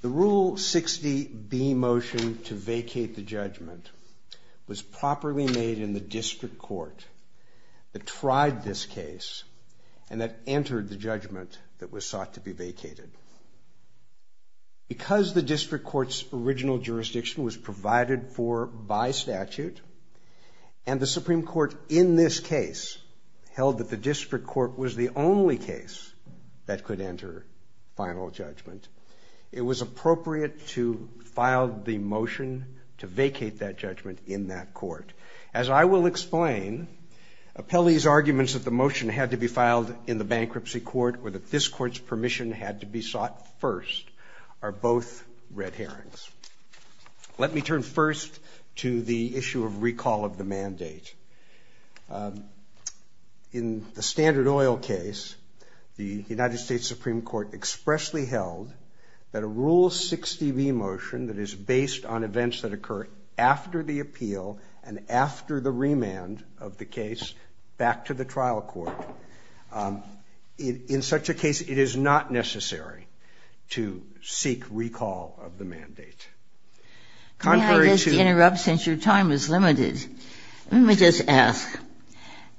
The Rule 60B motion to vacate the judgment was properly made in the District Court the last time that the Supreme Court tried this case and that entered the judgment that was sought to be vacated. Because the District Court's original jurisdiction was provided for by statute, and the Supreme Court in this case held that the District Court was the only case that could enter final judgment, it was appropriate to file the motion to vacate that judgment in that court. As I will explain, Pelley's arguments that the motion had to be filed in the bankruptcy court or that this court's permission had to be sought first are both red herrings. Let me turn first to the issue of recall of the mandate. In the Standard Oil case, the United States Supreme Court expressly held that a Rule 60B motion that is based on events that occur after the appeal and after the remand of the case back to the trial court. In such a case, it is not necessary to seek recall of the mandate.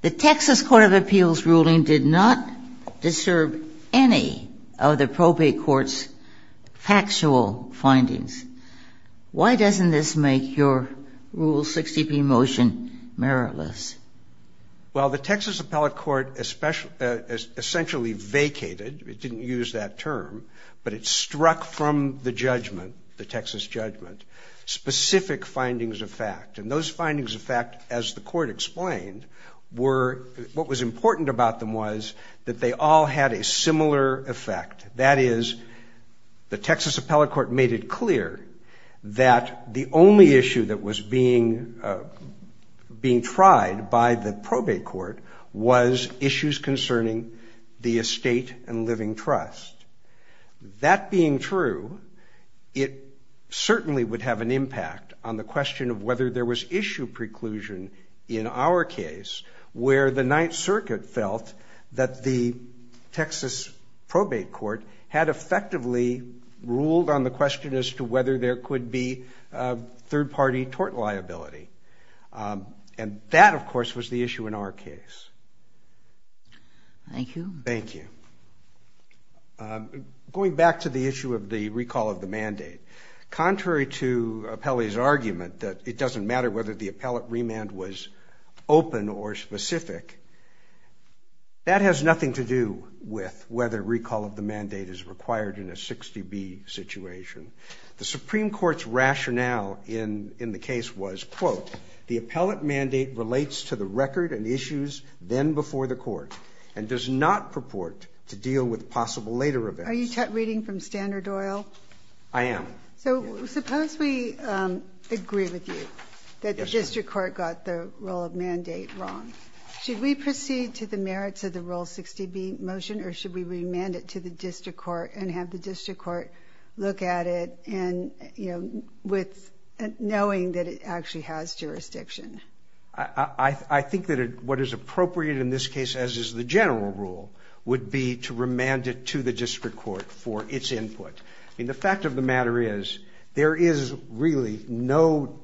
The Texas Court of Appeals ruling did not disturb any of the probate court's factual findings. Why doesn't this make your Rule 60B motion meritless? Well, the Texas Appellate Court essentially vacated, it didn't use that term, but it struck from the judgment, the Texas judgment, specific findings of fact. And those findings of fact, as the court explained, what was important about them was that they all had a similar effect. That is, the Texas Appellate Court made it clear that the only issue that was being tried by the probate court was issues concerning the estate and living trust. That being true, it certainly would have an impact on the question of whether there was issue preclusion in our case where the Ninth Circuit felt that the Texas probate court had an issue. The Texas Appellate Court had effectively ruled on the question as to whether there could be third-party tort liability. And that, of course, was the issue in our case. Thank you. Thank you. Going back to the issue of the recall of the mandate, contrary to Appellee's argument that it doesn't matter whether the appellate remand was open or specific, that has nothing to do with whether recall of the mandate is required in a 60B situation. The Supreme Court's rationale in the case was, quote, the appellate mandate relates to the record and issues then before the court and does not purport to deal with possible later events. Are you reading from Standard Oil? I am. So suppose we agree with you that the district court got the rule of mandate wrong. Should we proceed to the merits of the Rule 60B motion or should we remand it to the district court and have the district court look at it and, you know, with knowing that it actually has jurisdiction? I think that what is appropriate in this case, as is the general rule, would be to remand it to the district court for its input. I mean, the fact of the matter is there is really no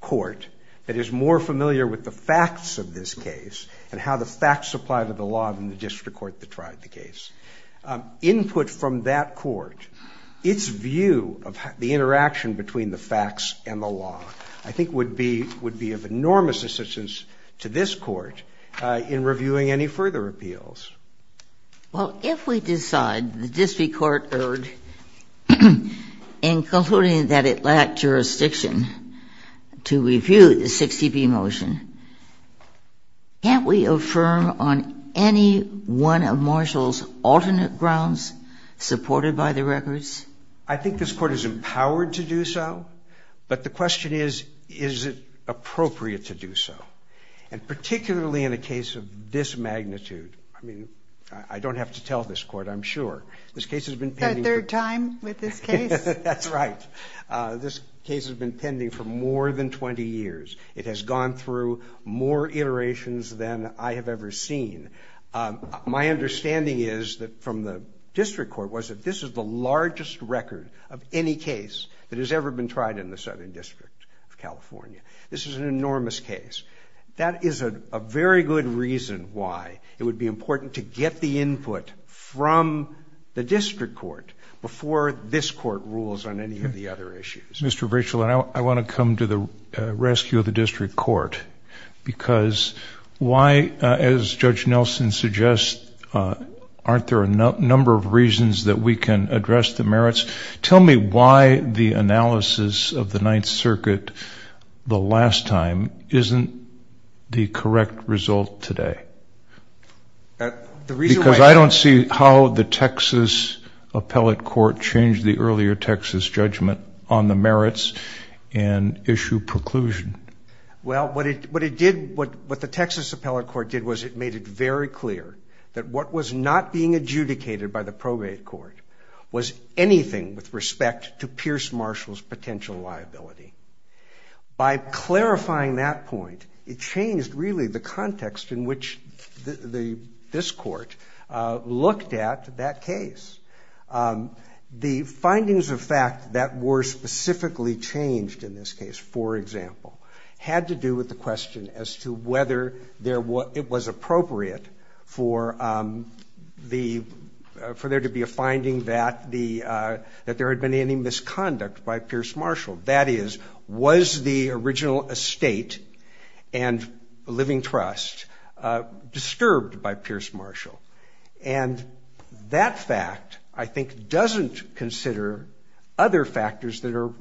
court that is more familiar with the facts of this case and how the facts apply to the law than the district court that tried the case. Input from that court, its view of the interaction between the facts and the law, I think would be of enormous assistance to this court in reviewing any further appeals. Well, if we decide the district court erred in concluding that it lacked jurisdiction to review the 60B motion, can't we affirm on any one of Marshall's alternate grounds supported by the records? I think this Court is empowered to do so, but the question is, is it appropriate to do so? And particularly in a case of this magnitude, I mean, I don't have to tell this Court, I'm sure. This case has been pending... A third time with this case? That's right. This case has been pending for more than 20 years. It has gone through more iterations than I have ever seen. My understanding is that from the district court was that this is the largest record of any case that has ever been tried in the Southern District of California. This is an enormous case. That is a very good reason why it would be important to get the input from the district court before this court rules on any of the other issues. Mr. Virchel, I want to come to the rescue of the district court, because why, as Judge Nelson suggests, aren't there a number of reasons that we can address the merits? Tell me why the analysis of the Ninth Circuit the last time isn't the correct result today. The reason why... Because I don't see how the Texas Appellate Court changed the earlier Texas judgment on the merits and issue preclusion. Well, what the Texas Appellate Court did was it made it very clear that what was not being adjudicated by the probate court was anything with respect to Pierce Marshall's potential liability. By clarifying that point, it changed really the context in which this court looked at that case. The findings of fact that were specifically changed in this case, for example, had to do with the question as to whether it was appropriate for there to be a finding that there had been any misconduct by Pierce Marshall. That is, was the original estate and living trust disturbed by Pierce Marshall? And that fact, I think, doesn't consider other factors that are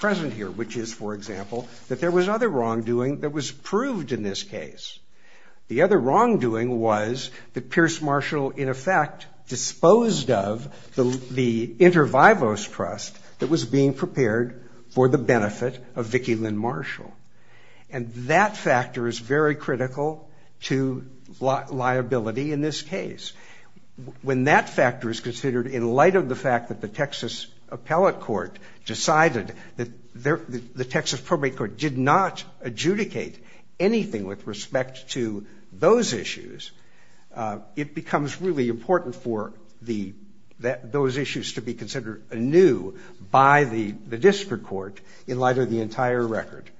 present here, which is, for example, that there was other wrongdoing that was proved in this case. The other wrongdoing was that Pierce Marshall, in effect, disposed of the inter vivos trust that was being prepared for the benefit of Vicki Lynn Marshall. And that factor is very critical to liability in this case. When that factor is considered in light of the fact that the Texas Appellate Court decided that the Texas Probate Court did not adjudicate anything with respect to those issues, it becomes really important for those issues to be considered anew by the district court in light of the entire record.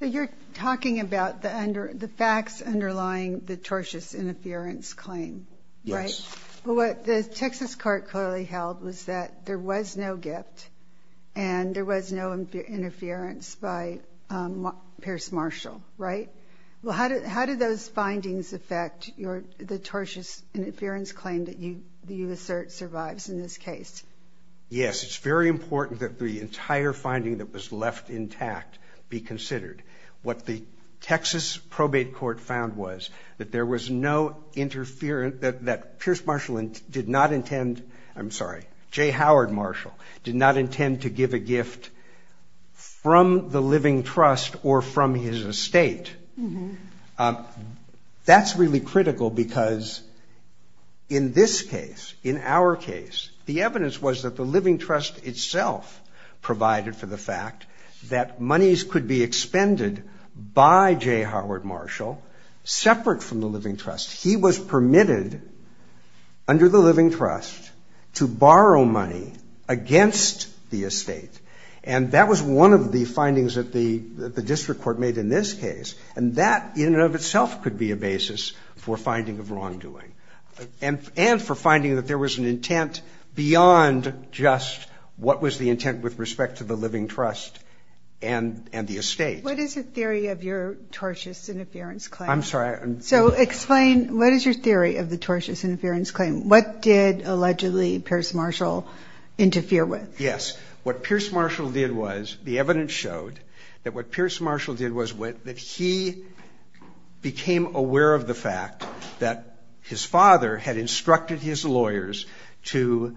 So you're talking about the facts underlying the tortious interference claim, right? Yes. Well, what the Texas court clearly held was that there was no gift and there was no interference by Pierce Marshall, right? Well, how did those findings affect the tortious interference claim that you assert survives in this case? Yes, it's very important that the entire finding that was left intact be considered. What the Texas Probate Court found was that there was no interference, that Pierce Marshall did not intend, I'm sorry, Jay Howard Marshall did not intend to give a gift from the living trust or from his estate. That's really critical because in this case, in our case, the evidence was that the living trust itself provided for the fact that monies could be expended by Jay Howard Marshall, separate from the living trust. He was permitted under the living trust to borrow money against the estate. And that was one of the findings that the district court made in this case. And that in and of itself could be a basis for finding of wrongdoing. And for finding that there was an intent beyond just what was the intent with respect to the living trust and the estate. What is the theory of your tortious interference claim? I'm sorry. So explain, what is your theory of the tortious interference claim? What did allegedly Pierce Marshall interfere with? Yes. What Pierce Marshall did was the evidence showed that what Pierce Marshall did was that he became aware of the fact that his father had instructed his lawyers to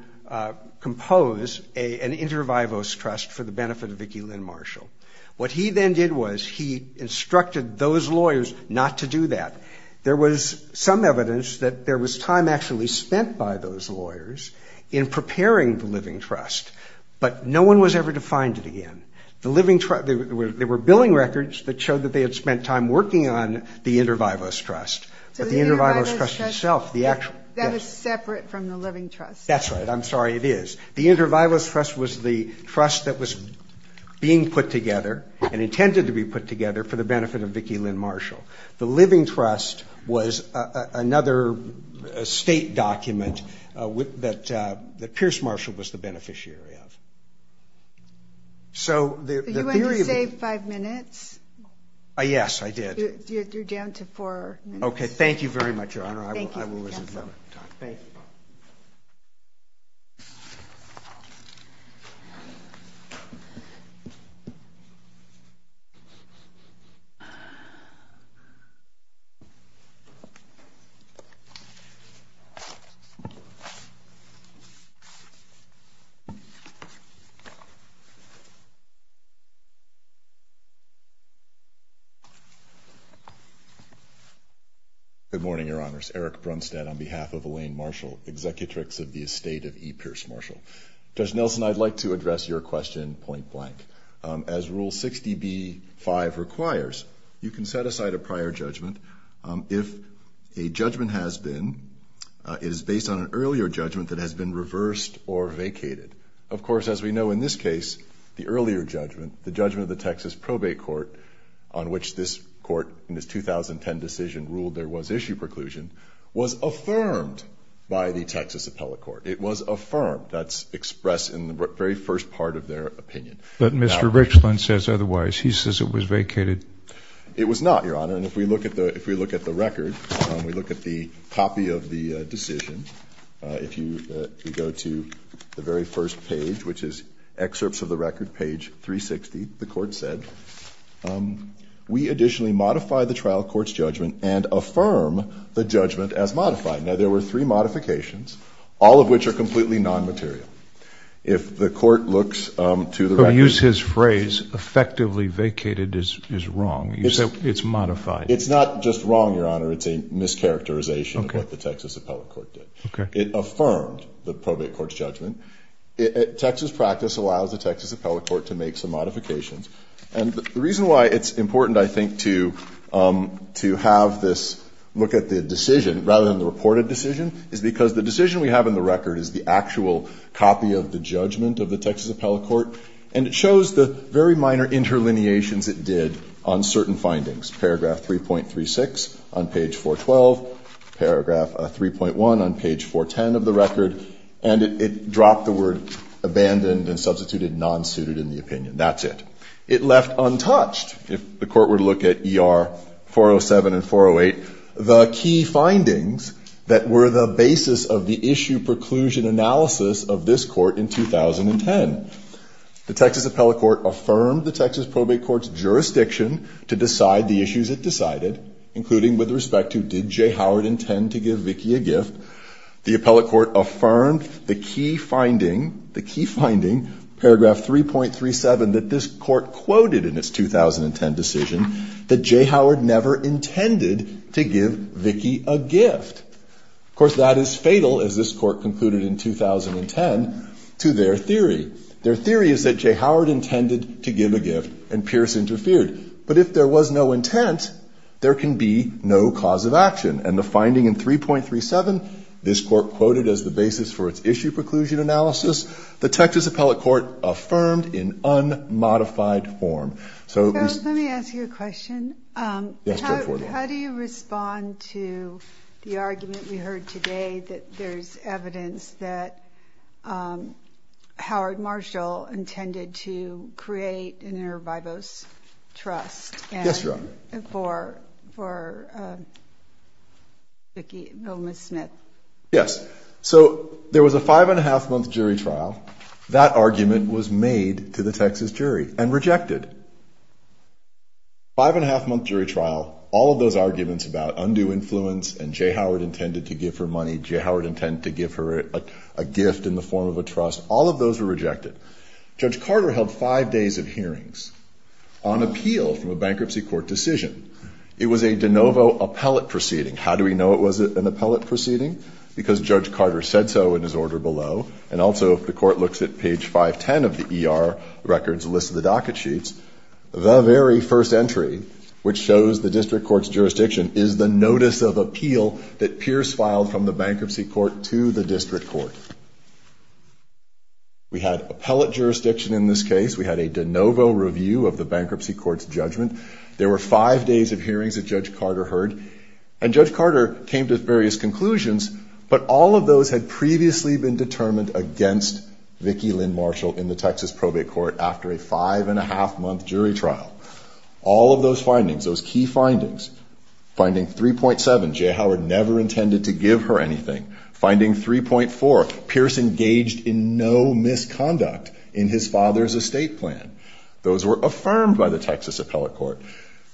compose an inter vivos trust for the benefit of Vicki Lynn Marshall. What he then did was he instructed those lawyers not to do that. There was some evidence that there was time actually spent by those lawyers in preparing the living trust. But no one was ever to find it again. The living trust, there were billing records that showed that they had spent time working on the inter vivos trust. But the inter vivos trust itself, the actual. That is separate from the living trust. That's right. I'm sorry, it is. The inter vivos trust was the trust that was being put together and intended to be put together for the benefit of Vicki Lynn Marshall. The living trust was another state document that Pierce Marshall was the beneficiary of. So the theory of. You went and saved five minutes. Yes, I did. You're down to four minutes. Okay, thank you very much, Your Honor. Thank you. Thank you. Good morning, Your Honor. Eric Brunstad on behalf of Elaine Marshall, executrix of the estate of E. Pierce Marshall. Judge Nelson, I'd like to address your question point blank. As Rule 60B-5 requires, you can set aside a prior judgment if a judgment has been. It is based on an earlier judgment that has been reversed or vacated. Of course, as we know in this case, the earlier judgment, the judgment of the Texas Probate Court, on which this court in its 2010 decision ruled there was issue preclusion, was affirmed by the Texas Appellate Court. It was affirmed. That's expressed in the very first part of their opinion. But Mr. Richland says otherwise. He says it was vacated. It was not, Your Honor. And if we look at the record, we look at the copy of the decision. If you go to the very first page, which is excerpts of the record, page 360, the court said, we additionally modify the trial court's judgment and affirm the judgment as modified. Now, there were three modifications, all of which are completely non-material. If the court looks to the record. But use his phrase, effectively vacated is wrong. You said it's modified. It's not just wrong, Your Honor. It's a mischaracterization of what the Texas Appellate Court did. Okay. It affirmed the Probate Court's judgment. Texas practice allows the Texas Appellate Court to make some modifications. And the reason why it's important, I think, to have this look at the decision, rather than the reported decision, is because the decision we have in the record is the actual copy of the judgment of the Texas Appellate Court. And it shows the very minor interlineations it did on certain findings. Paragraph 3.36 on page 412. Paragraph 3.1 on page 410 of the record. And it dropped the word abandoned and substituted non-suited in the opinion. That's it. It left untouched, if the court were to look at ER 407 and 408, the key findings that were the basis of the issue preclusion analysis of this court in 2010. The Texas Appellate Court affirmed the Texas Probate Court's jurisdiction to decide the issues it decided, including with respect to did Jay Howard intend to give Vicki a gift. The Appellate Court affirmed the key finding, the key finding, paragraph 3.37, that this court quoted in its 2010 decision that Jay Howard never intended to give Vicki a gift. Of course, that is fatal, as this court concluded in 2010, to their theory. Their theory is that Jay Howard intended to give a gift and Pierce interfered. But if there was no intent, there can be no cause of action. And the finding in 3.37, this court quoted as the basis for its issue preclusion analysis, the Texas Appellate Court affirmed in unmodified form. So we see. Let me ask you a question. Yes, go for it. How do you respond to the argument we heard today that there's evidence that Howard Marshall intended to create an inter vivos trust? Yes, Your Honor. For Vicki Willamette Smith? Yes. So there was a five-and-a-half-month jury trial. That argument was made to the Texas jury and rejected. Five-and-a-half-month jury trial, all of those arguments about undue influence and Jay Howard intended to give her money, Jay Howard intended to give her a gift in the form of a trust, all of those were rejected. Judge Carter held five days of hearings on appeal from a bankruptcy court decision. It was a de novo appellate proceeding. How do we know it was an appellate proceeding? Because Judge Carter said so in his order below. And also the court looks at page 510 of the ER records list of the docket sheets. The very first entry, which shows the district court's jurisdiction, is the notice of appeal that Pierce filed from the bankruptcy court to the district court. We had appellate jurisdiction in this case. We had a de novo review of the bankruptcy court's judgment. There were five days of hearings that Judge Carter heard. And Judge Carter came to various conclusions, but all of those had previously been determined against Vicki Lynn Marshall in the Texas probate court after a five-and-a-half-month jury trial. All of those findings, those key findings, finding 3.7, Jay Howard never intended to give her anything, finding 3.4, Pierce engaged in no misconduct in his father's estate plan. Those were affirmed by the Texas appellate court.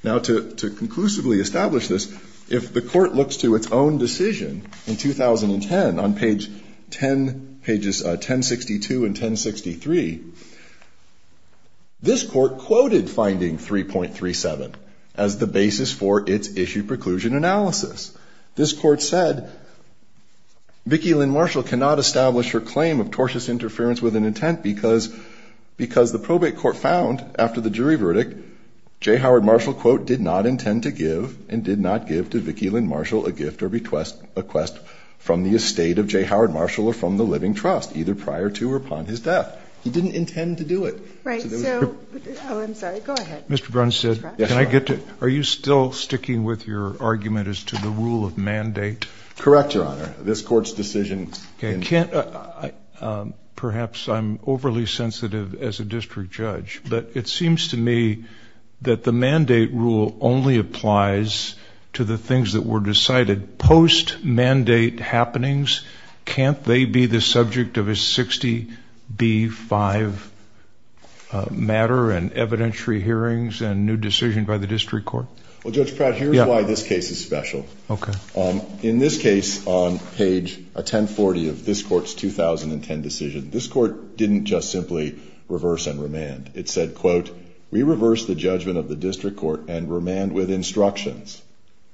Now, to conclusively establish this, if the court looks to its own decision in 2010 on pages 1062 and 1063, this court quoted finding 3.37 as the basis for its issue preclusion analysis. This court said, Vicki Lynn Marshall cannot establish her claim of tortuous interference with an intent because the probate court found, after the jury verdict, Jay Howard Marshall, quote, did not intend to give and did not give to Vicki Lynn Marshall a gift or request from the estate of Jay Howard Marshall or from the living trust, either prior to or upon his death. He didn't intend to do it. Right. So, oh, I'm sorry. Go ahead. Mr. Brunstad, can I get to, are you still sticking with your argument as to the rule of mandate? Correct, Your Honor. This court's decision. Perhaps I'm overly sensitive as a district judge, but it seems to me that the mandate rule only applies to the things that were decided post-mandate happenings. Can't they be the subject of a 60-B-5 matter and evidentiary hearings and new decision by the district court? Well, Judge Pratt, here's why this case is special. Okay. In this case, on page 1040 of this court's 2010 decision, this court didn't just simply reverse and remand. It said, quote, we reverse the judgment of the district court and remand with instructions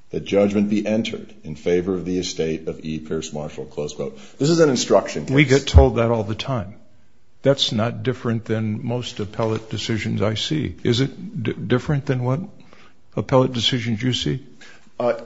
that judgment be entered in favor of the estate of E. Pierce Marshall, close quote. This is an instruction case. We get told that all the time. That's not different than most appellate decisions I see. Is it different than what appellate decisions you see?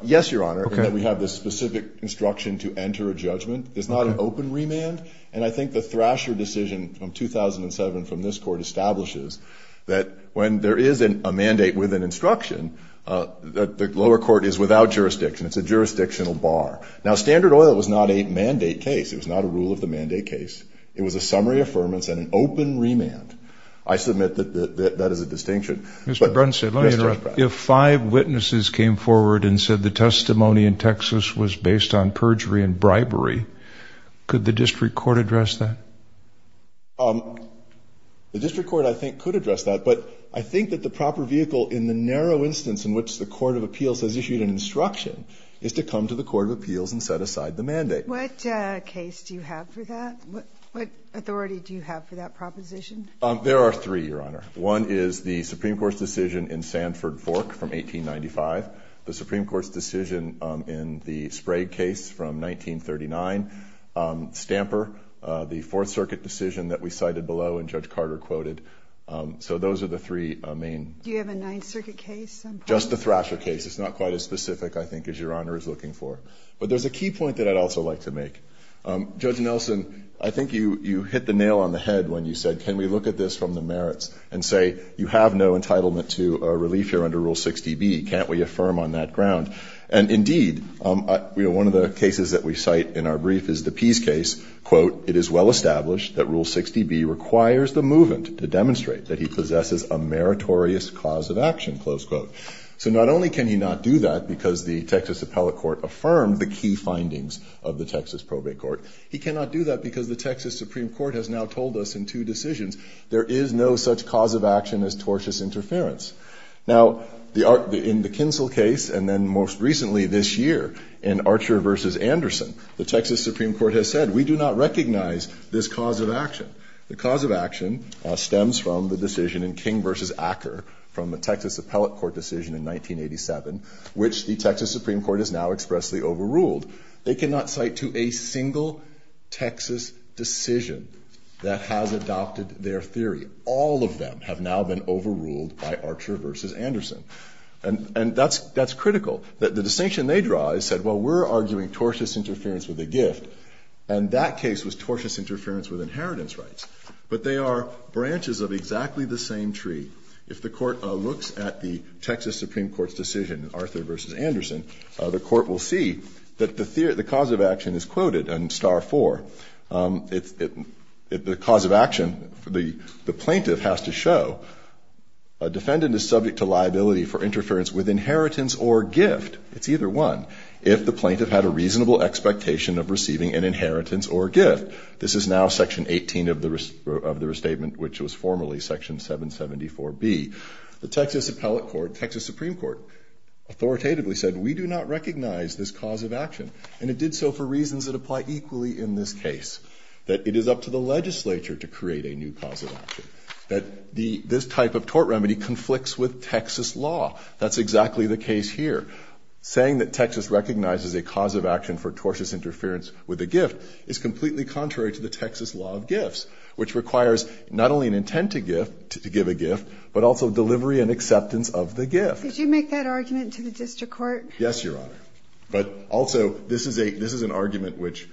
Yes, Your Honor. We have this specific instruction to enter a judgment. It's not an open remand. And I think the Thrasher decision from 2007 from this court establishes that when there is a mandate with an instruction, the lower court is without jurisdiction. It's a jurisdictional bar. Now, standard oil was not a mandate case. It was not a rule of the mandate case. It was a summary affirmance and an open remand. I submit that that is a distinction. Mr. Brunstad, let me interrupt. The district court has come forward and said the testimony in Texas was based on perjury and bribery. Could the district court address that? The district court, I think, could address that. But I think that the proper vehicle in the narrow instance in which the court of appeals has issued an instruction is to come to the court of appeals and set aside the mandate. What case do you have for that? What authority do you have for that proposition? There are three, Your Honor. One is the Supreme Court's decision in Sanford Fork from 1895, the Supreme Court's decision in the Sprague case from 1939, Stamper, the Fourth Circuit decision that we cited below and Judge Carter quoted. So those are the three main. Do you have a Ninth Circuit case? Just the Thrasher case. It's not quite as specific, I think, as Your Honor is looking for. But there's a key point that I'd also like to make. Judge Nelson, I think you hit the nail on the head when you said, can we look at this from the merits and say you have no entitlement to a relief here under Rule 60B. Can't we affirm on that ground? And, indeed, one of the cases that we cite in our brief is the Pease case. Quote, it is well established that Rule 60B requires the movement to demonstrate that he possesses a meritorious cause of action, close quote. So not only can he not do that because the Texas appellate court affirmed the key findings of the Texas probate court, he cannot do that because the Texas Supreme Court has now told us in two decisions there is no such cause of action as tortious interference. Now, in the Kinsel case and then most recently this year in Archer v. Anderson, the Texas Supreme Court has said we do not recognize this cause of action. The cause of action stems from the decision in King v. Acker from the Texas appellate court decision in 1987, which the Texas Supreme Court has now expressly overruled. They cannot cite to a single Texas decision that has adopted their theory. All of them have now been overruled by Archer v. Anderson. And that's critical. The distinction they draw is said, well, we're arguing tortious interference with a gift. And that case was tortious interference with inheritance rights. But they are branches of exactly the same tree. If the Court looks at the Texas Supreme Court's decision in Archer v. Anderson, the cause of action is quoted in star four. The cause of action, the plaintiff has to show a defendant is subject to liability for interference with inheritance or gift. It's either one. If the plaintiff had a reasonable expectation of receiving an inheritance or gift. This is now section 18 of the restatement, which was formerly section 774B. The Texas appellate court, Texas Supreme Court authoritatively said we do not recognize this cause of action. And it did so for reasons that apply equally in this case. That it is up to the legislature to create a new cause of action. That this type of tort remedy conflicts with Texas law. That's exactly the case here. Saying that Texas recognizes a cause of action for tortious interference with a gift is completely contrary to the Texas law of gifts, which requires not only an intent to give a gift, but also delivery and acceptance of the gift. Did you make that argument to the district court? Yes, Your Honor. But also, this is an argument which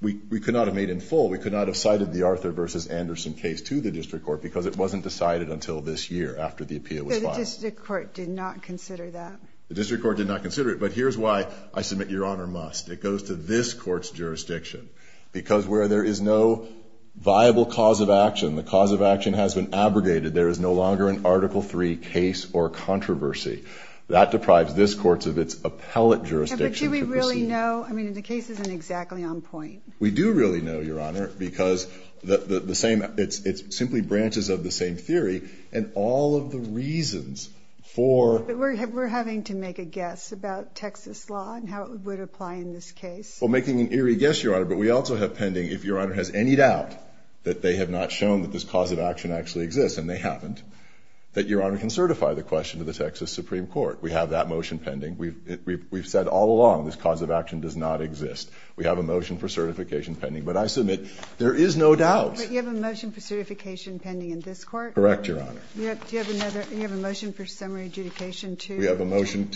we could not have made in full. We could not have cited the Arthur v. Anderson case to the district court because it wasn't decided until this year after the appeal was filed. The district court did not consider that. The district court did not consider it. But here's why I submit Your Honor must. It goes to this court's jurisdiction. Because where there is no viable cause of action, the cause of action has been abrogated. There is no longer an Article III case or controversy. That deprives this court of its appellate jurisdiction to proceed. But do we really know? I mean, the case isn't exactly on point. We do really know, Your Honor, because it simply branches of the same theory and all of the reasons for— But we're having to make a guess about Texas law and how it would apply in this case. Well, making an eerie guess, Your Honor, but we also have pending if Your Honor has any doubt that they have not shown that this cause of action actually exists, and they haven't, that Your Honor can certify the question to Texas Supreme Court. We have that motion pending. We've said all along this cause of action does not exist. We have a motion for certification pending. But I submit there is no doubt. But you have a motion for certification pending in this court? Correct, Your Honor. Do you have another? Do you have a motion for summary adjudication to— We have a motion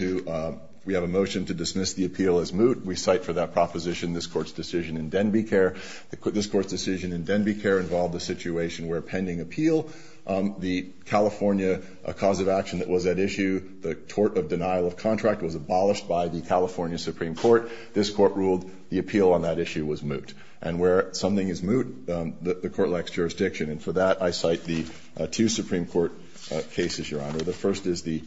to dismiss the appeal as moot. We cite for that proposition this Court's decision in Denbigh Care. This Court's decision in Denbigh Care involved a situation where pending appeal the California cause of action that was at issue, the tort of denial of contract, was abolished by the California Supreme Court. This Court ruled the appeal on that issue was moot. And where something is moot, the Court lacks jurisdiction. And for that, I cite the two Supreme Court cases, Your Honor. The first is the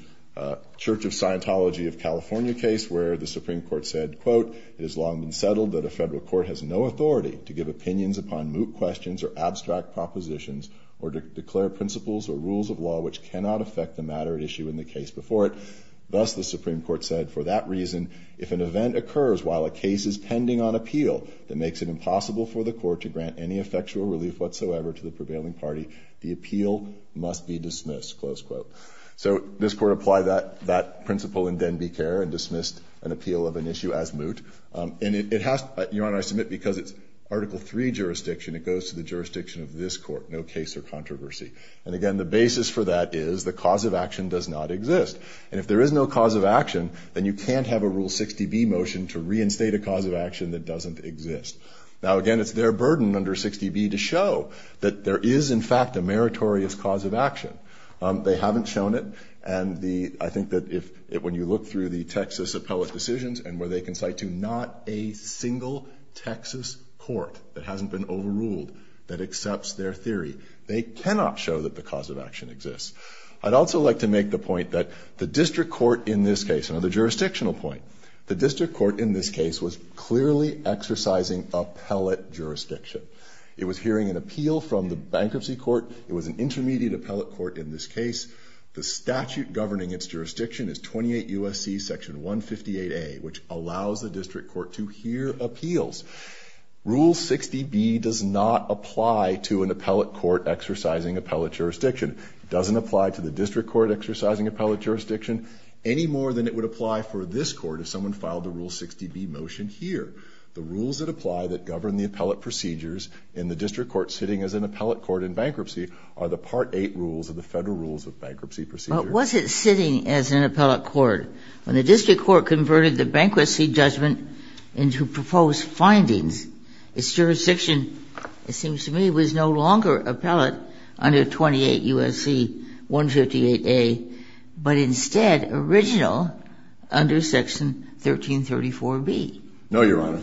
Church of Scientology of California case where the Supreme Court said, quote, it has long been settled that a federal court has no authority to give opinions upon moot questions or abstract propositions or to declare principles or rules of law which cannot affect the matter at issue in the case before it. Thus, the Supreme Court said, for that reason, if an event occurs while a case is pending on appeal that makes it impossible for the court to grant any effectual relief whatsoever to the prevailing party, the appeal must be dismissed, close quote. So this Court applied that principle in Denbigh Care and dismissed an appeal of an issue as moot. And it has—Your Honor, I submit because it's Article III jurisdiction, it goes to the jurisdiction of this Court, no case or controversy. And again, the basis for that is the cause of action does not exist. And if there is no cause of action, then you can't have a Rule 60B motion to reinstate a cause of action that doesn't exist. Now, again, it's their burden under 60B to show that there is, in fact, a meritorious cause of action. They haven't shown it. And the—I think that if—when you look through the Texas appellate decisions and where they can cite to not a single Texas court that hasn't been overruled that accepts their theory, they cannot show that the cause of action exists. I'd also like to make the point that the district court in this case— another jurisdictional point—the district court in this case was clearly exercising appellate jurisdiction. It was hearing an appeal from the bankruptcy court. It was an intermediate appellate court in this case. The statute governing its jurisdiction is 28 U.S.C. section 158A, which allows the district court to hear appeals. Rule 60B does not apply to an appellate court exercising appellate jurisdiction. It doesn't apply to the district court exercising appellate jurisdiction any more than it would apply for this court if someone filed a Rule 60B motion here. The rules that apply that govern the appellate procedures in the district court sitting as an appellate court in bankruptcy are the Part 8 rules of the Federal Rules of Bankruptcy Procedure. But was it sitting as an appellate court? When the district court converted the bankruptcy judgment into proposed findings, its jurisdiction, it seems to me, was no longer appellate under 28 U.S.C. 158A, but instead original under section 1334B. No, Your Honor.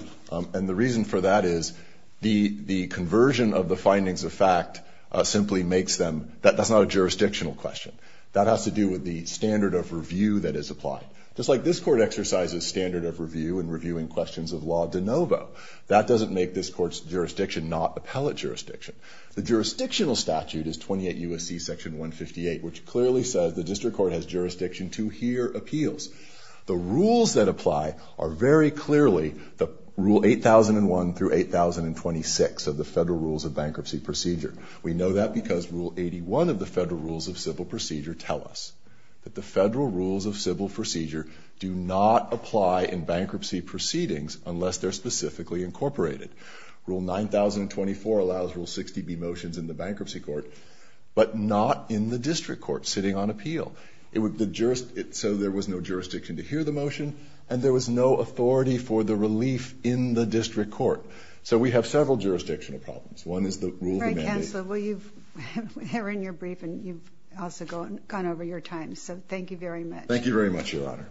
And the reason for that is the conversion of the findings of fact simply makes them— that's not a jurisdictional question. That has to do with the standard of review that is applied. Just like this court exercises standard of review in reviewing questions of law de novo, that doesn't make this court's jurisdiction not appellate jurisdiction. The jurisdictional statute is 28 U.S.C. section 158, which clearly says the district court has jurisdiction to hear appeals. The rules that apply are very clearly the Rule 8001 through 8026 of the Federal Rules of Bankruptcy Procedure. We know that because Rule 81 of the Federal Rules of Civil Procedure tell us that the Federal Rules of Civil Procedure do not apply in bankruptcy proceedings unless they're specifically incorporated. Rule 9024 allows Rule 60B motions in the bankruptcy court, but not in the district court sitting on appeal. So there was no jurisdiction to hear the motion, and there was no authority for the relief in the district court. So we have several jurisdictional problems. One is the rule of the mandate. Frank Hansler, we're hearing your brief, and you've also gone over your time. So thank you very much. Thank you very much, Your Honor.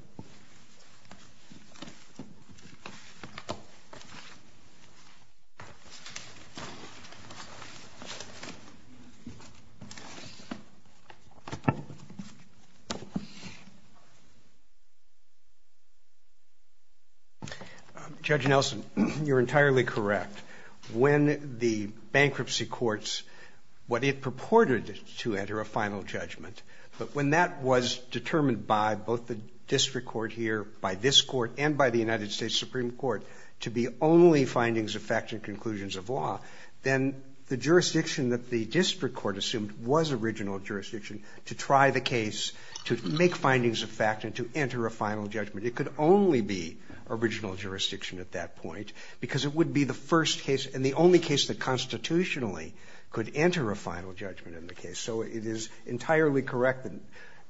Judge Nelson, you're entirely correct. When the bankruptcy courts, what it purported to enter a final judgment, but when that was determined by both the district court here, by this court, and by the United States Supreme Court, to be only findings of fact and conclusions of law, then the jurisdiction that the district court assumed was original jurisdiction to try the case, to make findings of fact, and to enter a final judgment. It could only be original jurisdiction at that point because it would be the first case and the only case that constitutionally could enter a final judgment in the case. So it is entirely correct.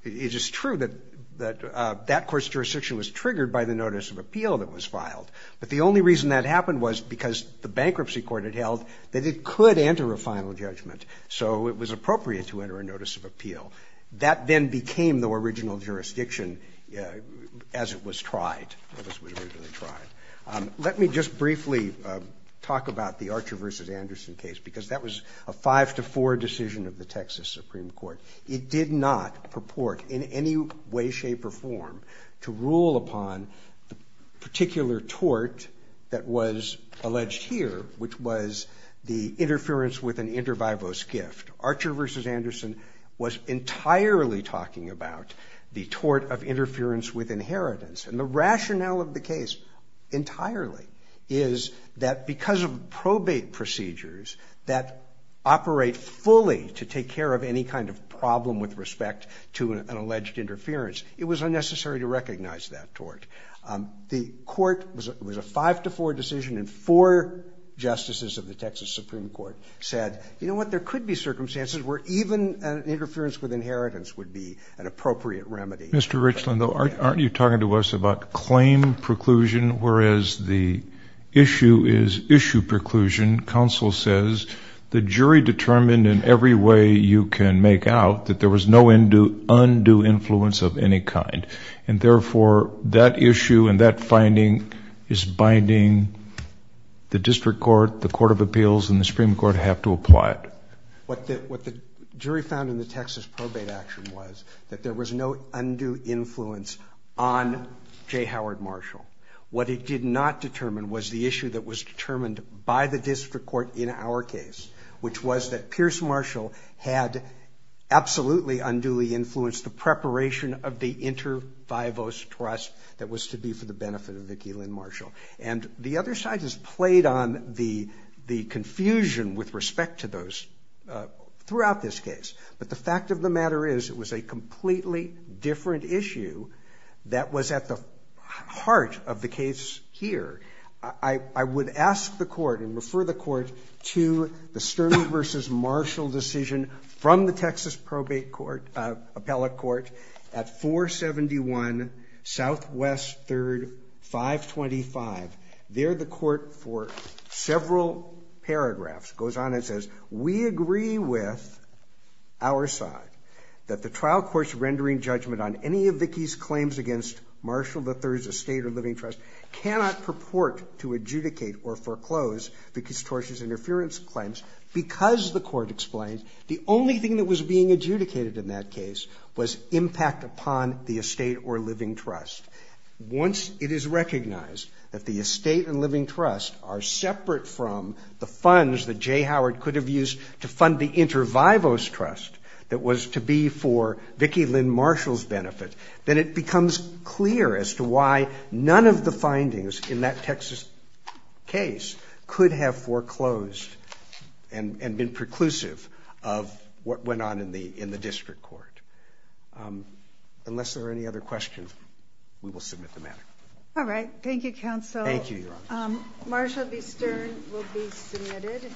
It is true that that court's jurisdiction was triggered by the notice of appeal that was filed. But the only reason that happened was because the bankruptcy court had held that it could enter a final judgment. So it was appropriate to enter a notice of appeal. That then became the original jurisdiction as it was tried, as it was originally tried. Let me just briefly talk about the Archer v. Anderson case because that was a five to four decision of the Texas Supreme Court. It did not purport in any way, shape, or form to rule upon the particular tort that was alleged here, which was the interference with an inter vivos gift. Archer v. Anderson was entirely talking about the tort of interference with inheritance. And the rationale of the case entirely is that because of probate procedures that operate fully to take care of any kind of problem with respect to an alleged interference, it was unnecessary to recognize that tort. The court, it was a five to four decision, and four justices of the Texas Supreme Court said, you know what? There could be circumstances where even an interference with inheritance would be an appropriate remedy. Mr. Richland, though, aren't you talking to us about claim preclusion, whereas the issue is issue preclusion? Counsel says the jury determined in every way you can make out that there was no undue influence of any kind. And therefore, that issue and that finding is binding the district court, the court of appeals, and the Supreme Court have to apply it. What the jury found in the Texas probate action was that there was no undue influence on J. Howard Marshall. What it did not determine was the issue that was determined by the district court in our case, which was that Pierce Marshall had absolutely unduly influenced the inter-fivos trust that was to be for the benefit of Vicki Lynn Marshall. And the other side has played on the confusion with respect to those throughout this case. But the fact of the matter is it was a completely different issue that was at the heart of the case here. I would ask the court and refer the court to the Sterling versus Marshall decision from the Texas probate court, appellate court at 471 Southwest 3rd 525. There the court for several paragraphs goes on and says, we agree with our side that the trial courts rendering judgment on any of Vicki's claims against Marshall, the third estate or living trust cannot purport to adjudicate or foreclose because tortious interference claims because the court explained the only thing that was being adjudicated in that case was impact upon the estate or living trust. Once it is recognized that the estate and living trust are separate from the funds that Jay Howard could have used to fund the inter-fivos trust that was to be for Vicki Lynn Marshall's benefit. Then it becomes clear as to why none of the findings in that Texas case could have foreclosed and been preclusive of what went on in the, in the district court. Unless there are any other questions, we will submit the matter. All right. Thank you. Counsel. Thank you. Marshall B. Stern will be submitted.